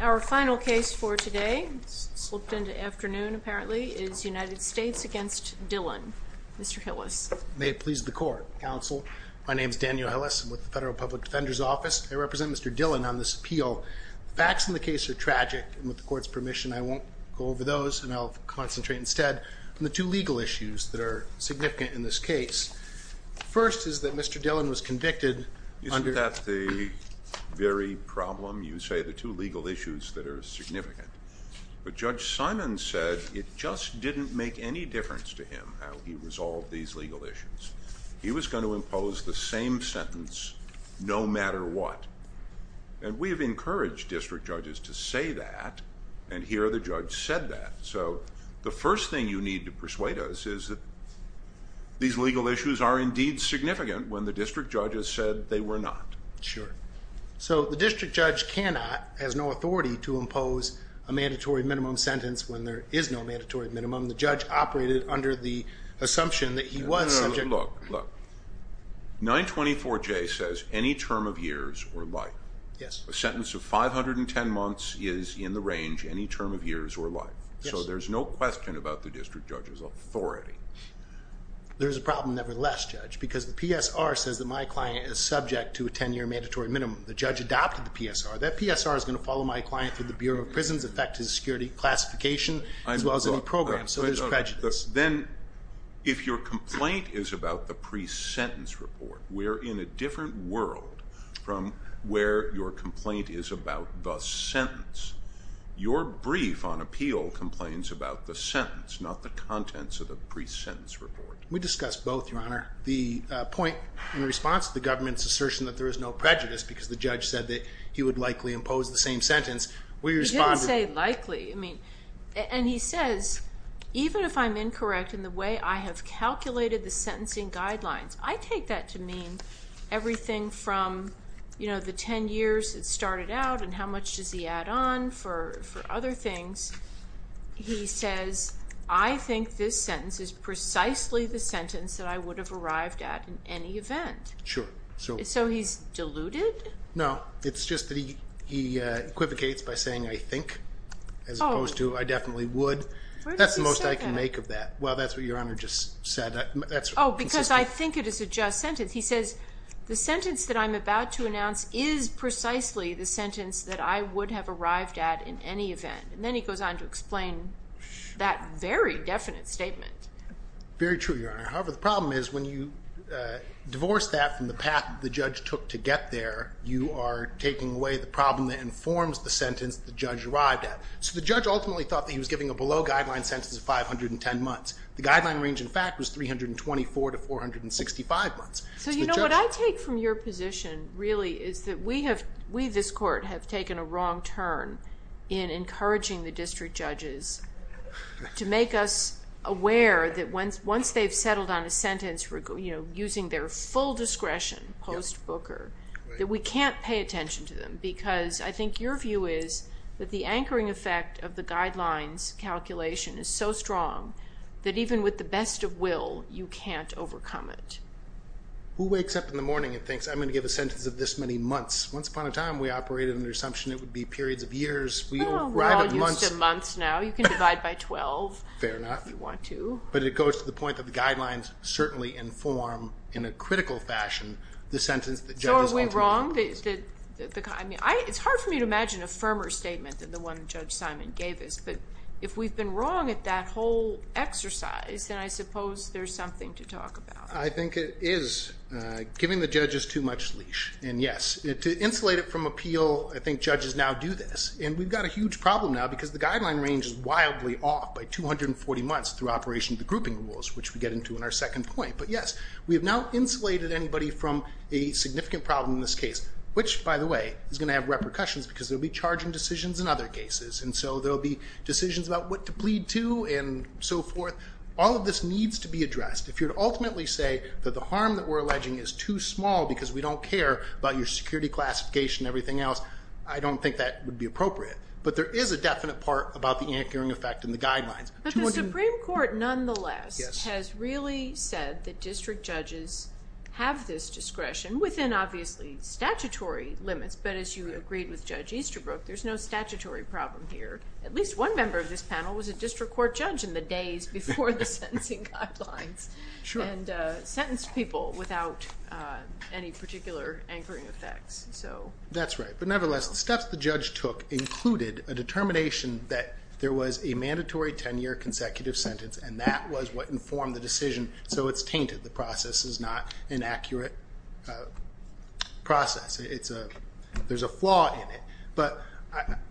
Our final case for today is United States v. Dillon May it please the Court, Counsel. My name is Daniel Hillis. I'm with the Federal Public Defender's Office. I represent Mr. Dillon on this appeal. The facts in the case are tragic. With the Court's permission, I won't go over those, and I'll concentrate instead on the two legal issues that are significant in this case. First is that Mr. Dillon was convicted under Isn't that the very problem? You say the two legal issues that are significant. But Judge Simon said it just didn't make any difference to him how he resolved these legal issues. He was going to impose the same sentence no matter what. And we have encouraged district judges to say that, and here the judge said that. So the first thing you need to persuade us is that these legal issues are indeed significant when the district judge has said they were not. Sure. So the district judge cannot, has no authority to impose a mandatory minimum sentence when there is no mandatory minimum. The judge operated under the assumption that he was subject No, no, no. Look, look. 924J says any term of years or life. Yes. A sentence of 510 months is in the range any term of years or life. So there's no question about the district judge's authority. There is a problem nevertheless, Judge, because the PSR says that my client is subject to a 10-year mandatory minimum. The judge adopted the PSR. That PSR is going to follow my client through the Bureau of Prisons, affect his security classification, as well as any program. So there's prejudice. Then if your complaint is about the pre-sentence report, we're in a different world from where your complaint is about the sentence. Your brief on appeal complains about the sentence, not the contents of the pre-sentence report. We discussed both, Your Honor. The point in response to the government's assertion that there is no prejudice because the judge said that he would likely impose the same sentence, we responded I didn't say likely. I mean, and he says, even if I'm incorrect in the way I have calculated the sentencing guidelines, I take that to mean everything from, you know, the 10 years it started out and how much does he add on for other things. He says, I think this sentence is precisely the sentence that I would have arrived at in any event. Sure. So he's deluded? No, it's just that he equivocates by saying, I think, as opposed to, I definitely would. That's the most I can make of that. Well, that's what Your Honor just said. Oh, because I think it is a just sentence. He says, the sentence that I'm about to announce is precisely the sentence that I would have arrived at in any event. And then he goes on to explain that very definite statement. Very true, Your Honor. However, the problem is when you divorce that from the path the judge took to get there, you are taking away the problem that informs the sentence the judge arrived at. So the judge ultimately thought that he was giving a below-guideline sentence of 510 months. The guideline range, in fact, was 324 to 465 months. So, you know, what I take from your position, really, is that we, this Court, have taken a wrong turn in encouraging the district judges to make us aware that once they've settled on a sentence using their full discretion post-Booker, that we can't pay attention to them. Because I think your view is that the anchoring effect of the guidelines calculation is so strong that even with the best of will, you can't overcome it. Who wakes up in the morning and thinks, I'm going to give a sentence of this many months? Once upon a time, we operated under the assumption it would be periods of years. Oh, we're all used to months now. Fair enough. But it goes to the point that the guidelines certainly inform, in a critical fashion, the sentence that judges ultimately... So are we wrong? I mean, it's hard for me to imagine a firmer statement than the one Judge Simon gave us. But if we've been wrong at that whole exercise, then I suppose there's something to talk about. I think it is giving the judges too much leash. And yes, to insulate it from appeal, I think judges now do this. And we've got a huge problem now because the guideline range is wildly off by 240 months through operation of the grouping rules, which we get into in our second point. But yes, we have now insulated anybody from a significant problem in this case. Which, by the way, is going to have repercussions because there will be charging decisions in other cases. And so there will be decisions about what to plead to and so forth. All of this needs to be addressed. If you're to ultimately say that the harm that we're alleging is too small because we don't care about your security classification and everything else, I don't think that would be appropriate. But there is a definite part about the anchoring effect in the guidelines. But the Supreme Court nonetheless has really said that district judges have this discretion within, obviously, statutory limits. But as you agreed with Judge Easterbrook, there's no statutory problem here. At least one member of this panel was a district court judge in the days before the sentencing guidelines. Sure. And sentenced people without any particular anchoring effects. That's right. But nevertheless, the steps the judge took included a determination that there was a mandatory 10-year consecutive sentence. And that was what informed the decision. So it's tainted. The process is not an accurate process. There's a flaw in it. But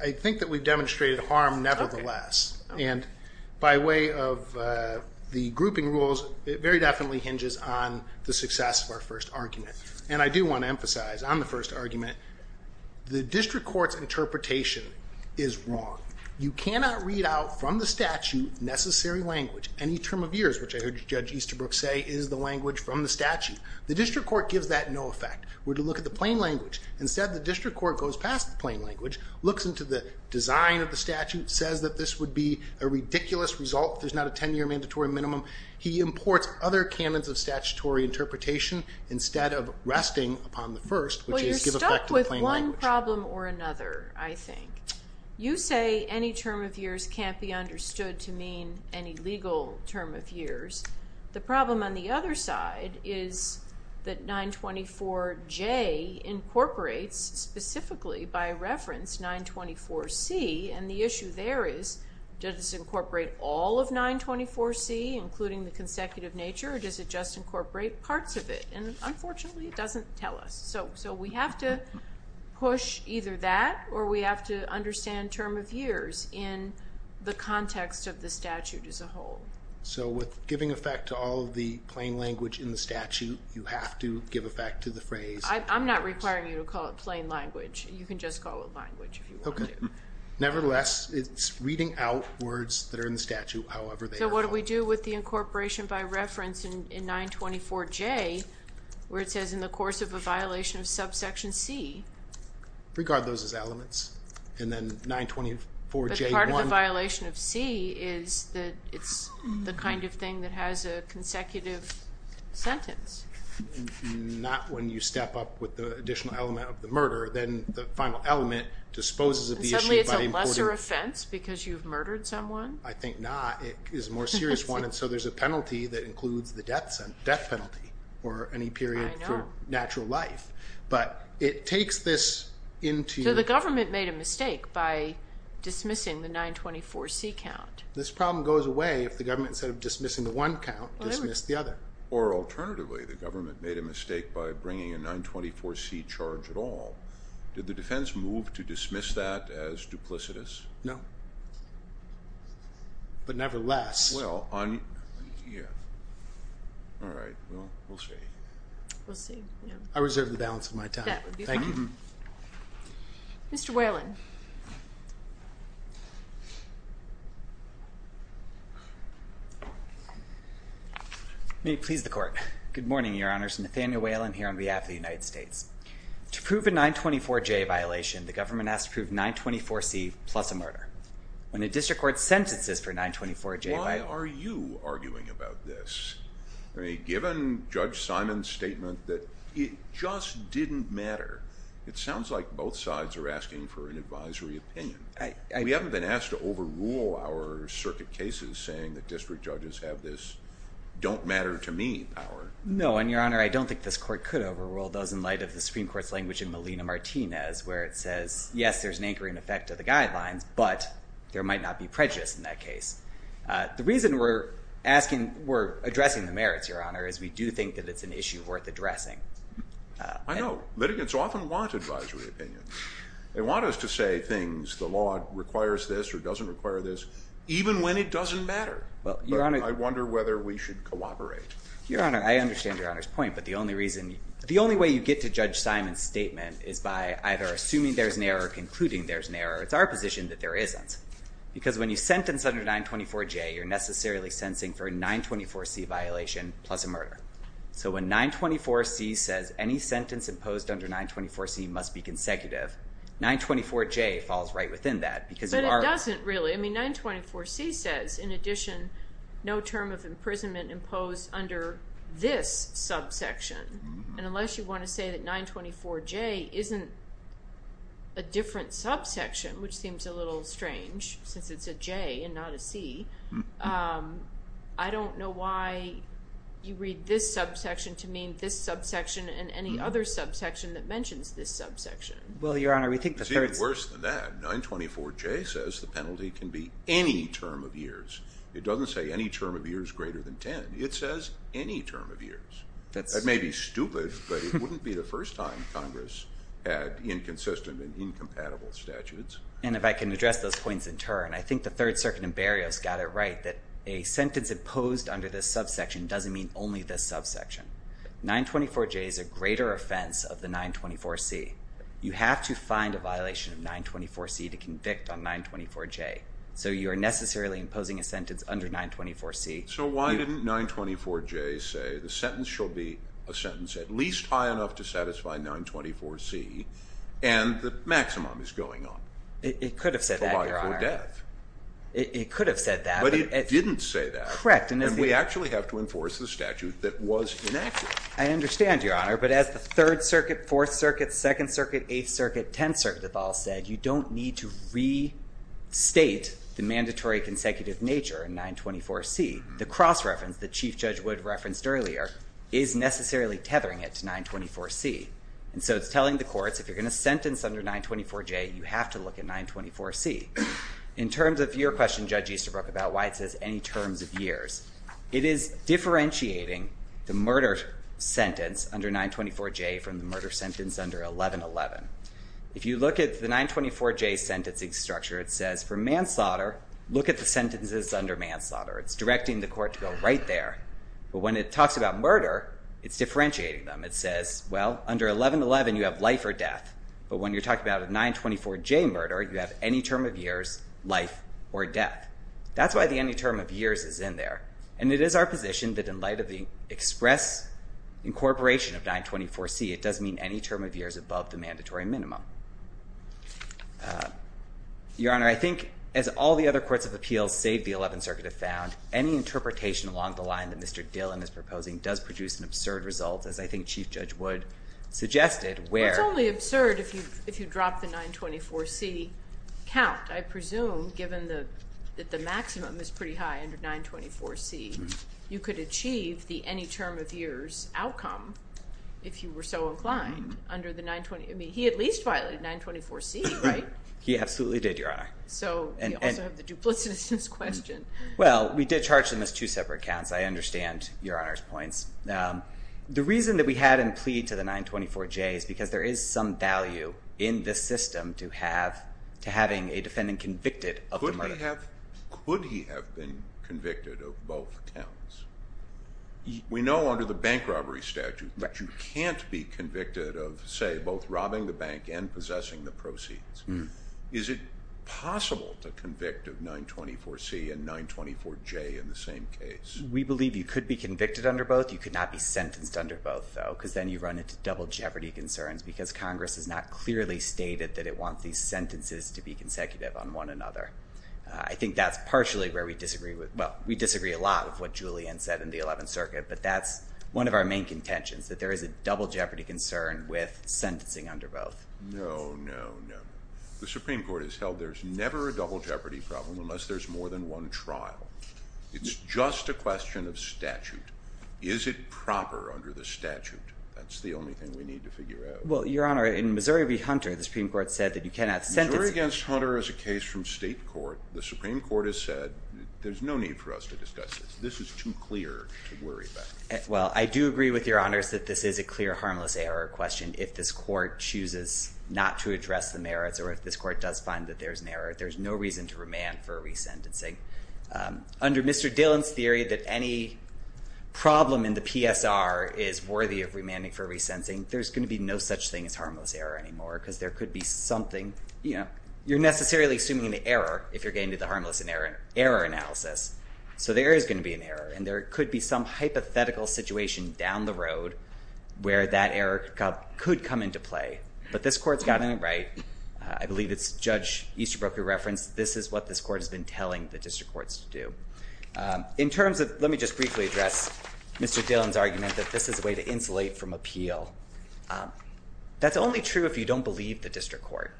I think that we've demonstrated harm nevertheless. And by way of the grouping rules, it very definitely hinges on the success of our first argument. And I do want to emphasize on the first argument, the district court's interpretation is wrong. You cannot read out from the statute necessary language. Any term of years, which I heard Judge Easterbrook say, is the language from the statute. The district court gives that no effect. We're to look at the plain language. Instead, the district court goes past the plain language, looks into the design of the statute, says that this would be a ridiculous result. There's not a 10-year mandatory minimum. He imports other canons of statutory interpretation instead of resting upon the first, which is give effect to the plain language. Well, you're stuck with one problem or another, I think. You say any term of years can't be understood to mean any legal term of years. The problem on the other side is that 924J incorporates specifically by reference 924C. And the issue there is does this incorporate all of 924C, including the consecutive nature, or does it just incorporate parts of it? And unfortunately, it doesn't tell us. So we have to push either that or we have to understand term of years in the context of the statute as a whole. So with giving effect to all of the plain language in the statute, you have to give effect to the phrase. I'm not requiring you to call it plain language. You can just call it language if you want to. Nevertheless, it's reading out words that are in the statute, however they are. So what do we do with the incorporation by reference in 924J, where it says in the course of a violation of subsection C? Regard those as elements, and then 924J1. But part of the violation of C is that it's the kind of thing that has a consecutive sentence. Not when you step up with the additional element of the murder. Then the final element disposes of the issue. Suddenly it's a lesser offense because you've murdered someone? I think not. It is a more serious one, and so there's a penalty that includes the death penalty or any period for natural life. But it takes this into- So the government made a mistake by dismissing the 924C count. This problem goes away if the government, instead of dismissing the one count, dismissed the other. Or alternatively, the government made a mistake by bringing a 924C charge at all. Did the defense move to dismiss that as duplicitous? No. But nevertheless- Well, on- Yeah. All right, well, we'll see. We'll see, yeah. I reserve the balance of my time. That would be fine. Thank you. Mr. Whalen. May it please the Court. Good morning, Your Honors. Nathaniel Whalen here on behalf of the United States. To prove a 924J violation, the government has to prove 924C plus a murder. When a district court sentences for a 924J- Why are you arguing about this? I mean, given Judge Simon's statement that it just didn't matter, it sounds like both sides are asking for an advisory opinion. We haven't been asked to overrule our circuit cases saying that district judges have this don't matter to me power. No, and, Your Honor, I don't think this court could overrule those in light of the Supreme Court's language in Molina-Martinez, where it says, yes, there's an anchoring effect of the guidelines, but there might not be prejudice in that case. The reason we're asking, we're addressing the merits, Your Honor, is we do think that it's an issue worth addressing. I know. Litigants often want advisory opinions. They want us to say things, the law requires this or doesn't require this, even when it doesn't matter. I wonder whether we should cooperate. Your Honor, I understand Your Honor's point, but the only reason- The only way you get to Judge Simon's statement is by either assuming there's an error or concluding there's an error. It's our position that there isn't. Because when you sentence under 924J, you're necessarily sentencing for a 924C violation plus a murder. So when 924C says any sentence imposed under 924C must be consecutive, 924J falls right within that. But it doesn't, really. I mean, 924C says, in addition, no term of imprisonment imposed under this subsection. And unless you want to say that 924J isn't a different subsection, which seems a little strange, since it's a J and not a C, I don't know why you read this subsection to mean this subsection and any other subsection that mentions this subsection. Well, Your Honor, we think the third- It's even worse than that. 924J says the penalty can be any term of years. It doesn't say any term of years greater than 10. It says any term of years. That may be stupid, but it wouldn't be the first time Congress had inconsistent and incompatible statutes. And if I can address those points in turn, I think the Third Circuit in Berrios got it right that a sentence imposed under this subsection doesn't mean only this subsection. 924J is a greater offense of the 924C. You have to find a violation of 924C to convict on 924J. So you are necessarily imposing a sentence under 924C. So why didn't 924J say the sentence shall be a sentence at least high enough to satisfy 924C and the maximum is going on? It could have said that, Your Honor. For life or death. It could have said that. But it didn't say that. Correct. And we actually have to enforce the statute that was inaccurate. I understand, Your Honor, but as the Third Circuit, Fourth Circuit, Second Circuit, Eighth Circuit, Tenth Circuit have all said, you don't need to restate the mandatory consecutive nature in 924C. The cross-reference that Chief Judge Wood referenced earlier is necessarily tethering it to 924C. And so it's telling the courts, if you're going to sentence under 924J, you have to look at 924C. In terms of your question, Judge Easterbrook, about why it says any terms of years, it is differentiating the murder sentence under 924J from the murder sentence under 1111. If you look at the 924J sentencing structure, it says for manslaughter, look at the sentences under manslaughter. It's directing the court to go right there. But when it talks about murder, it's differentiating them. It says, well, under 1111, you have life or death. But when you're talking about a 924J murder, you have any term of years, life, or death. That's why the any term of years is in there. And it is our position that in light of the express incorporation of 924C, it does mean any term of years above the mandatory minimum. Your Honor, I think as all the other courts of appeals save the 11th Circuit have found, any interpretation along the line that Mr. Dillon is proposing does produce an absurd result, as I think Chief Judge Wood suggested, where – you could achieve the any term of years outcome if you were so inclined under the 924 – I mean, he at least violated 924C, right? He absolutely did, Your Honor. So you also have the duplicitousness question. Well, we did charge them as two separate counts. I understand Your Honor's points. The reason that we had him plead to the 924J is because there is some value in this system to have – to having a defendant convicted of the murder. Could he have been convicted of both counts? We know under the bank robbery statute that you can't be convicted of, say, both robbing the bank and possessing the proceeds. Is it possible to convict of 924C and 924J in the same case? We believe you could be convicted under both. You could not be sentenced under both, though, because then you run into double jeopardy concerns because Congress has not clearly stated that it wants these sentences to be consecutive on one another. I think that's partially where we disagree with – well, we disagree a lot with what Julian said in the Eleventh Circuit, but that's one of our main contentions, that there is a double jeopardy concern with sentencing under both. No, no, no. The Supreme Court has held there's never a double jeopardy problem unless there's more than one trial. It's just a question of statute. Is it proper under the statute? That's the only thing we need to figure out. Well, Your Honor, in Missouri v. Hunter, the Supreme Court said that you cannot sentence – Missouri v. Hunter is a case from state court. The Supreme Court has said there's no need for us to discuss this. This is too clear to worry about. Well, I do agree with Your Honors that this is a clear harmless error question. If this court chooses not to address the merits or if this court does find that there's an error, there's no reason to remand for resentencing. Under Mr. Dillon's theory that any problem in the PSR is worthy of remanding for resentencing, there's going to be no such thing as harmless error anymore because there could be something – you're necessarily assuming an error if you're getting to the harmless error analysis. So there is going to be an error, and there could be some hypothetical situation down the road where that error could come into play. But this court's gotten it right. I believe it's Judge Easterbrook who referenced this is what this court has been telling the district courts to do. In terms of – let me just briefly address Mr. Dillon's argument that this is a way to insulate from appeal. That's only true if you don't believe the district court.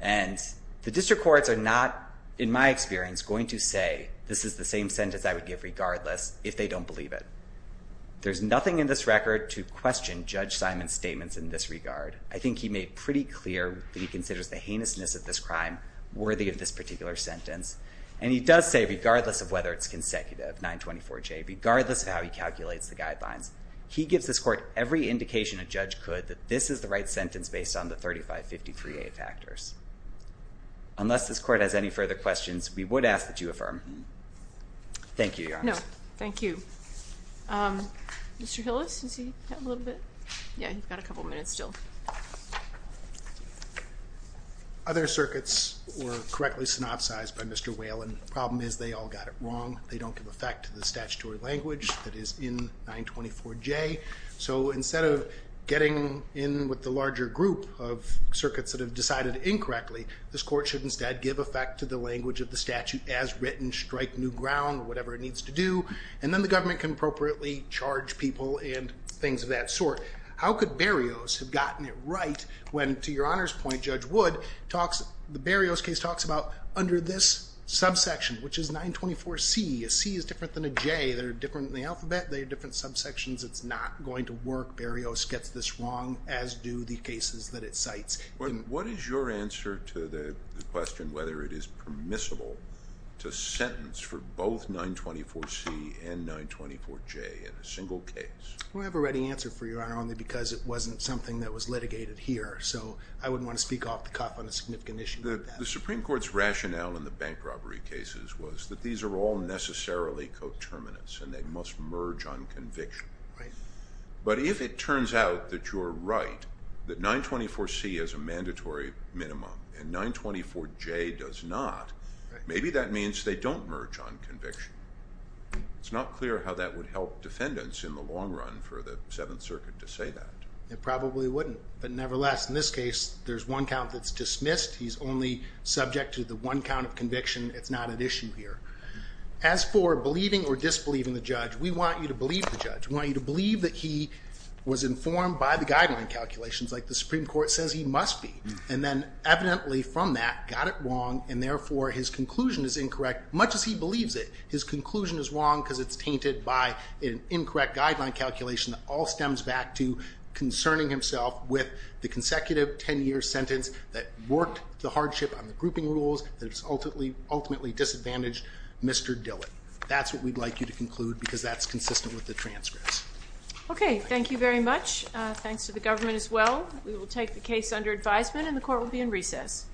And the district courts are not, in my experience, going to say, this is the same sentence I would give regardless if they don't believe it. There's nothing in this record to question Judge Simon's statements in this regard. I think he made pretty clear that he considers the heinousness of this crime worthy of this particular sentence. And he does say regardless of whether it's consecutive, 924J, regardless of how he calculates the guidelines, he gives this court every indication a judge could that this is the right sentence based on the 3553A factors. Unless this court has any further questions, we would ask that you affirm. Thank you, Your Honor. No, thank you. Mr. Hillis, did you have a little bit? Yeah, you've got a couple minutes still. Other circuits were correctly synopsized by Mr. Whalen. The problem is they all got it wrong. They don't give effect to the statutory language that is in 924J. So instead of getting in with the larger group of circuits that have decided incorrectly, this court should instead give effect to the language of the statute as written, strike new ground, whatever it needs to do. And then the government can appropriately charge people and things of that sort. How could Berrios have gotten it right when, to Your Honor's point, Judge Wood, the Berrios case talks about under this subsection, which is 924C. A C is different than a J. They're different in the alphabet. They're different subsections. It's not going to work. Berrios gets this wrong, as do the cases that it cites. What is your answer to the question whether it is permissible to sentence for both 924C and 924J in a single case? We have a ready answer for you, Your Honor, only because it wasn't something that was litigated here. So I wouldn't want to speak off the cuff on a significant issue. The Supreme Court's rationale in the bank robbery cases was that these are all necessarily coterminous, and they must merge on conviction. Right. But if it turns out that you're right, that 924C is a mandatory minimum and 924J does not, maybe that means they don't merge on conviction. It's not clear how that would help defendants in the long run for the Seventh Circuit to say that. It probably wouldn't. But nevertheless, in this case, there's one count that's dismissed. He's only subject to the one count of conviction. It's not at issue here. As for believing or disbelieving the judge, we want you to believe the judge. We want you to believe that he was informed by the guideline calculations, like the Supreme Court says he must be, and then evidently from that got it wrong, and therefore his conclusion is incorrect, much as he believes it. His conclusion is wrong because it's tainted by an incorrect guideline calculation that all stems back to concerning himself with the consecutive 10-year sentence that worked the hardship on the grouping rules that has ultimately disadvantaged Mr. Dillon. That's what we'd like you to conclude because that's consistent with the transcripts. Okay. Thank you very much. Thanks to the government as well. We will take the case under advisement and the court will be in recess.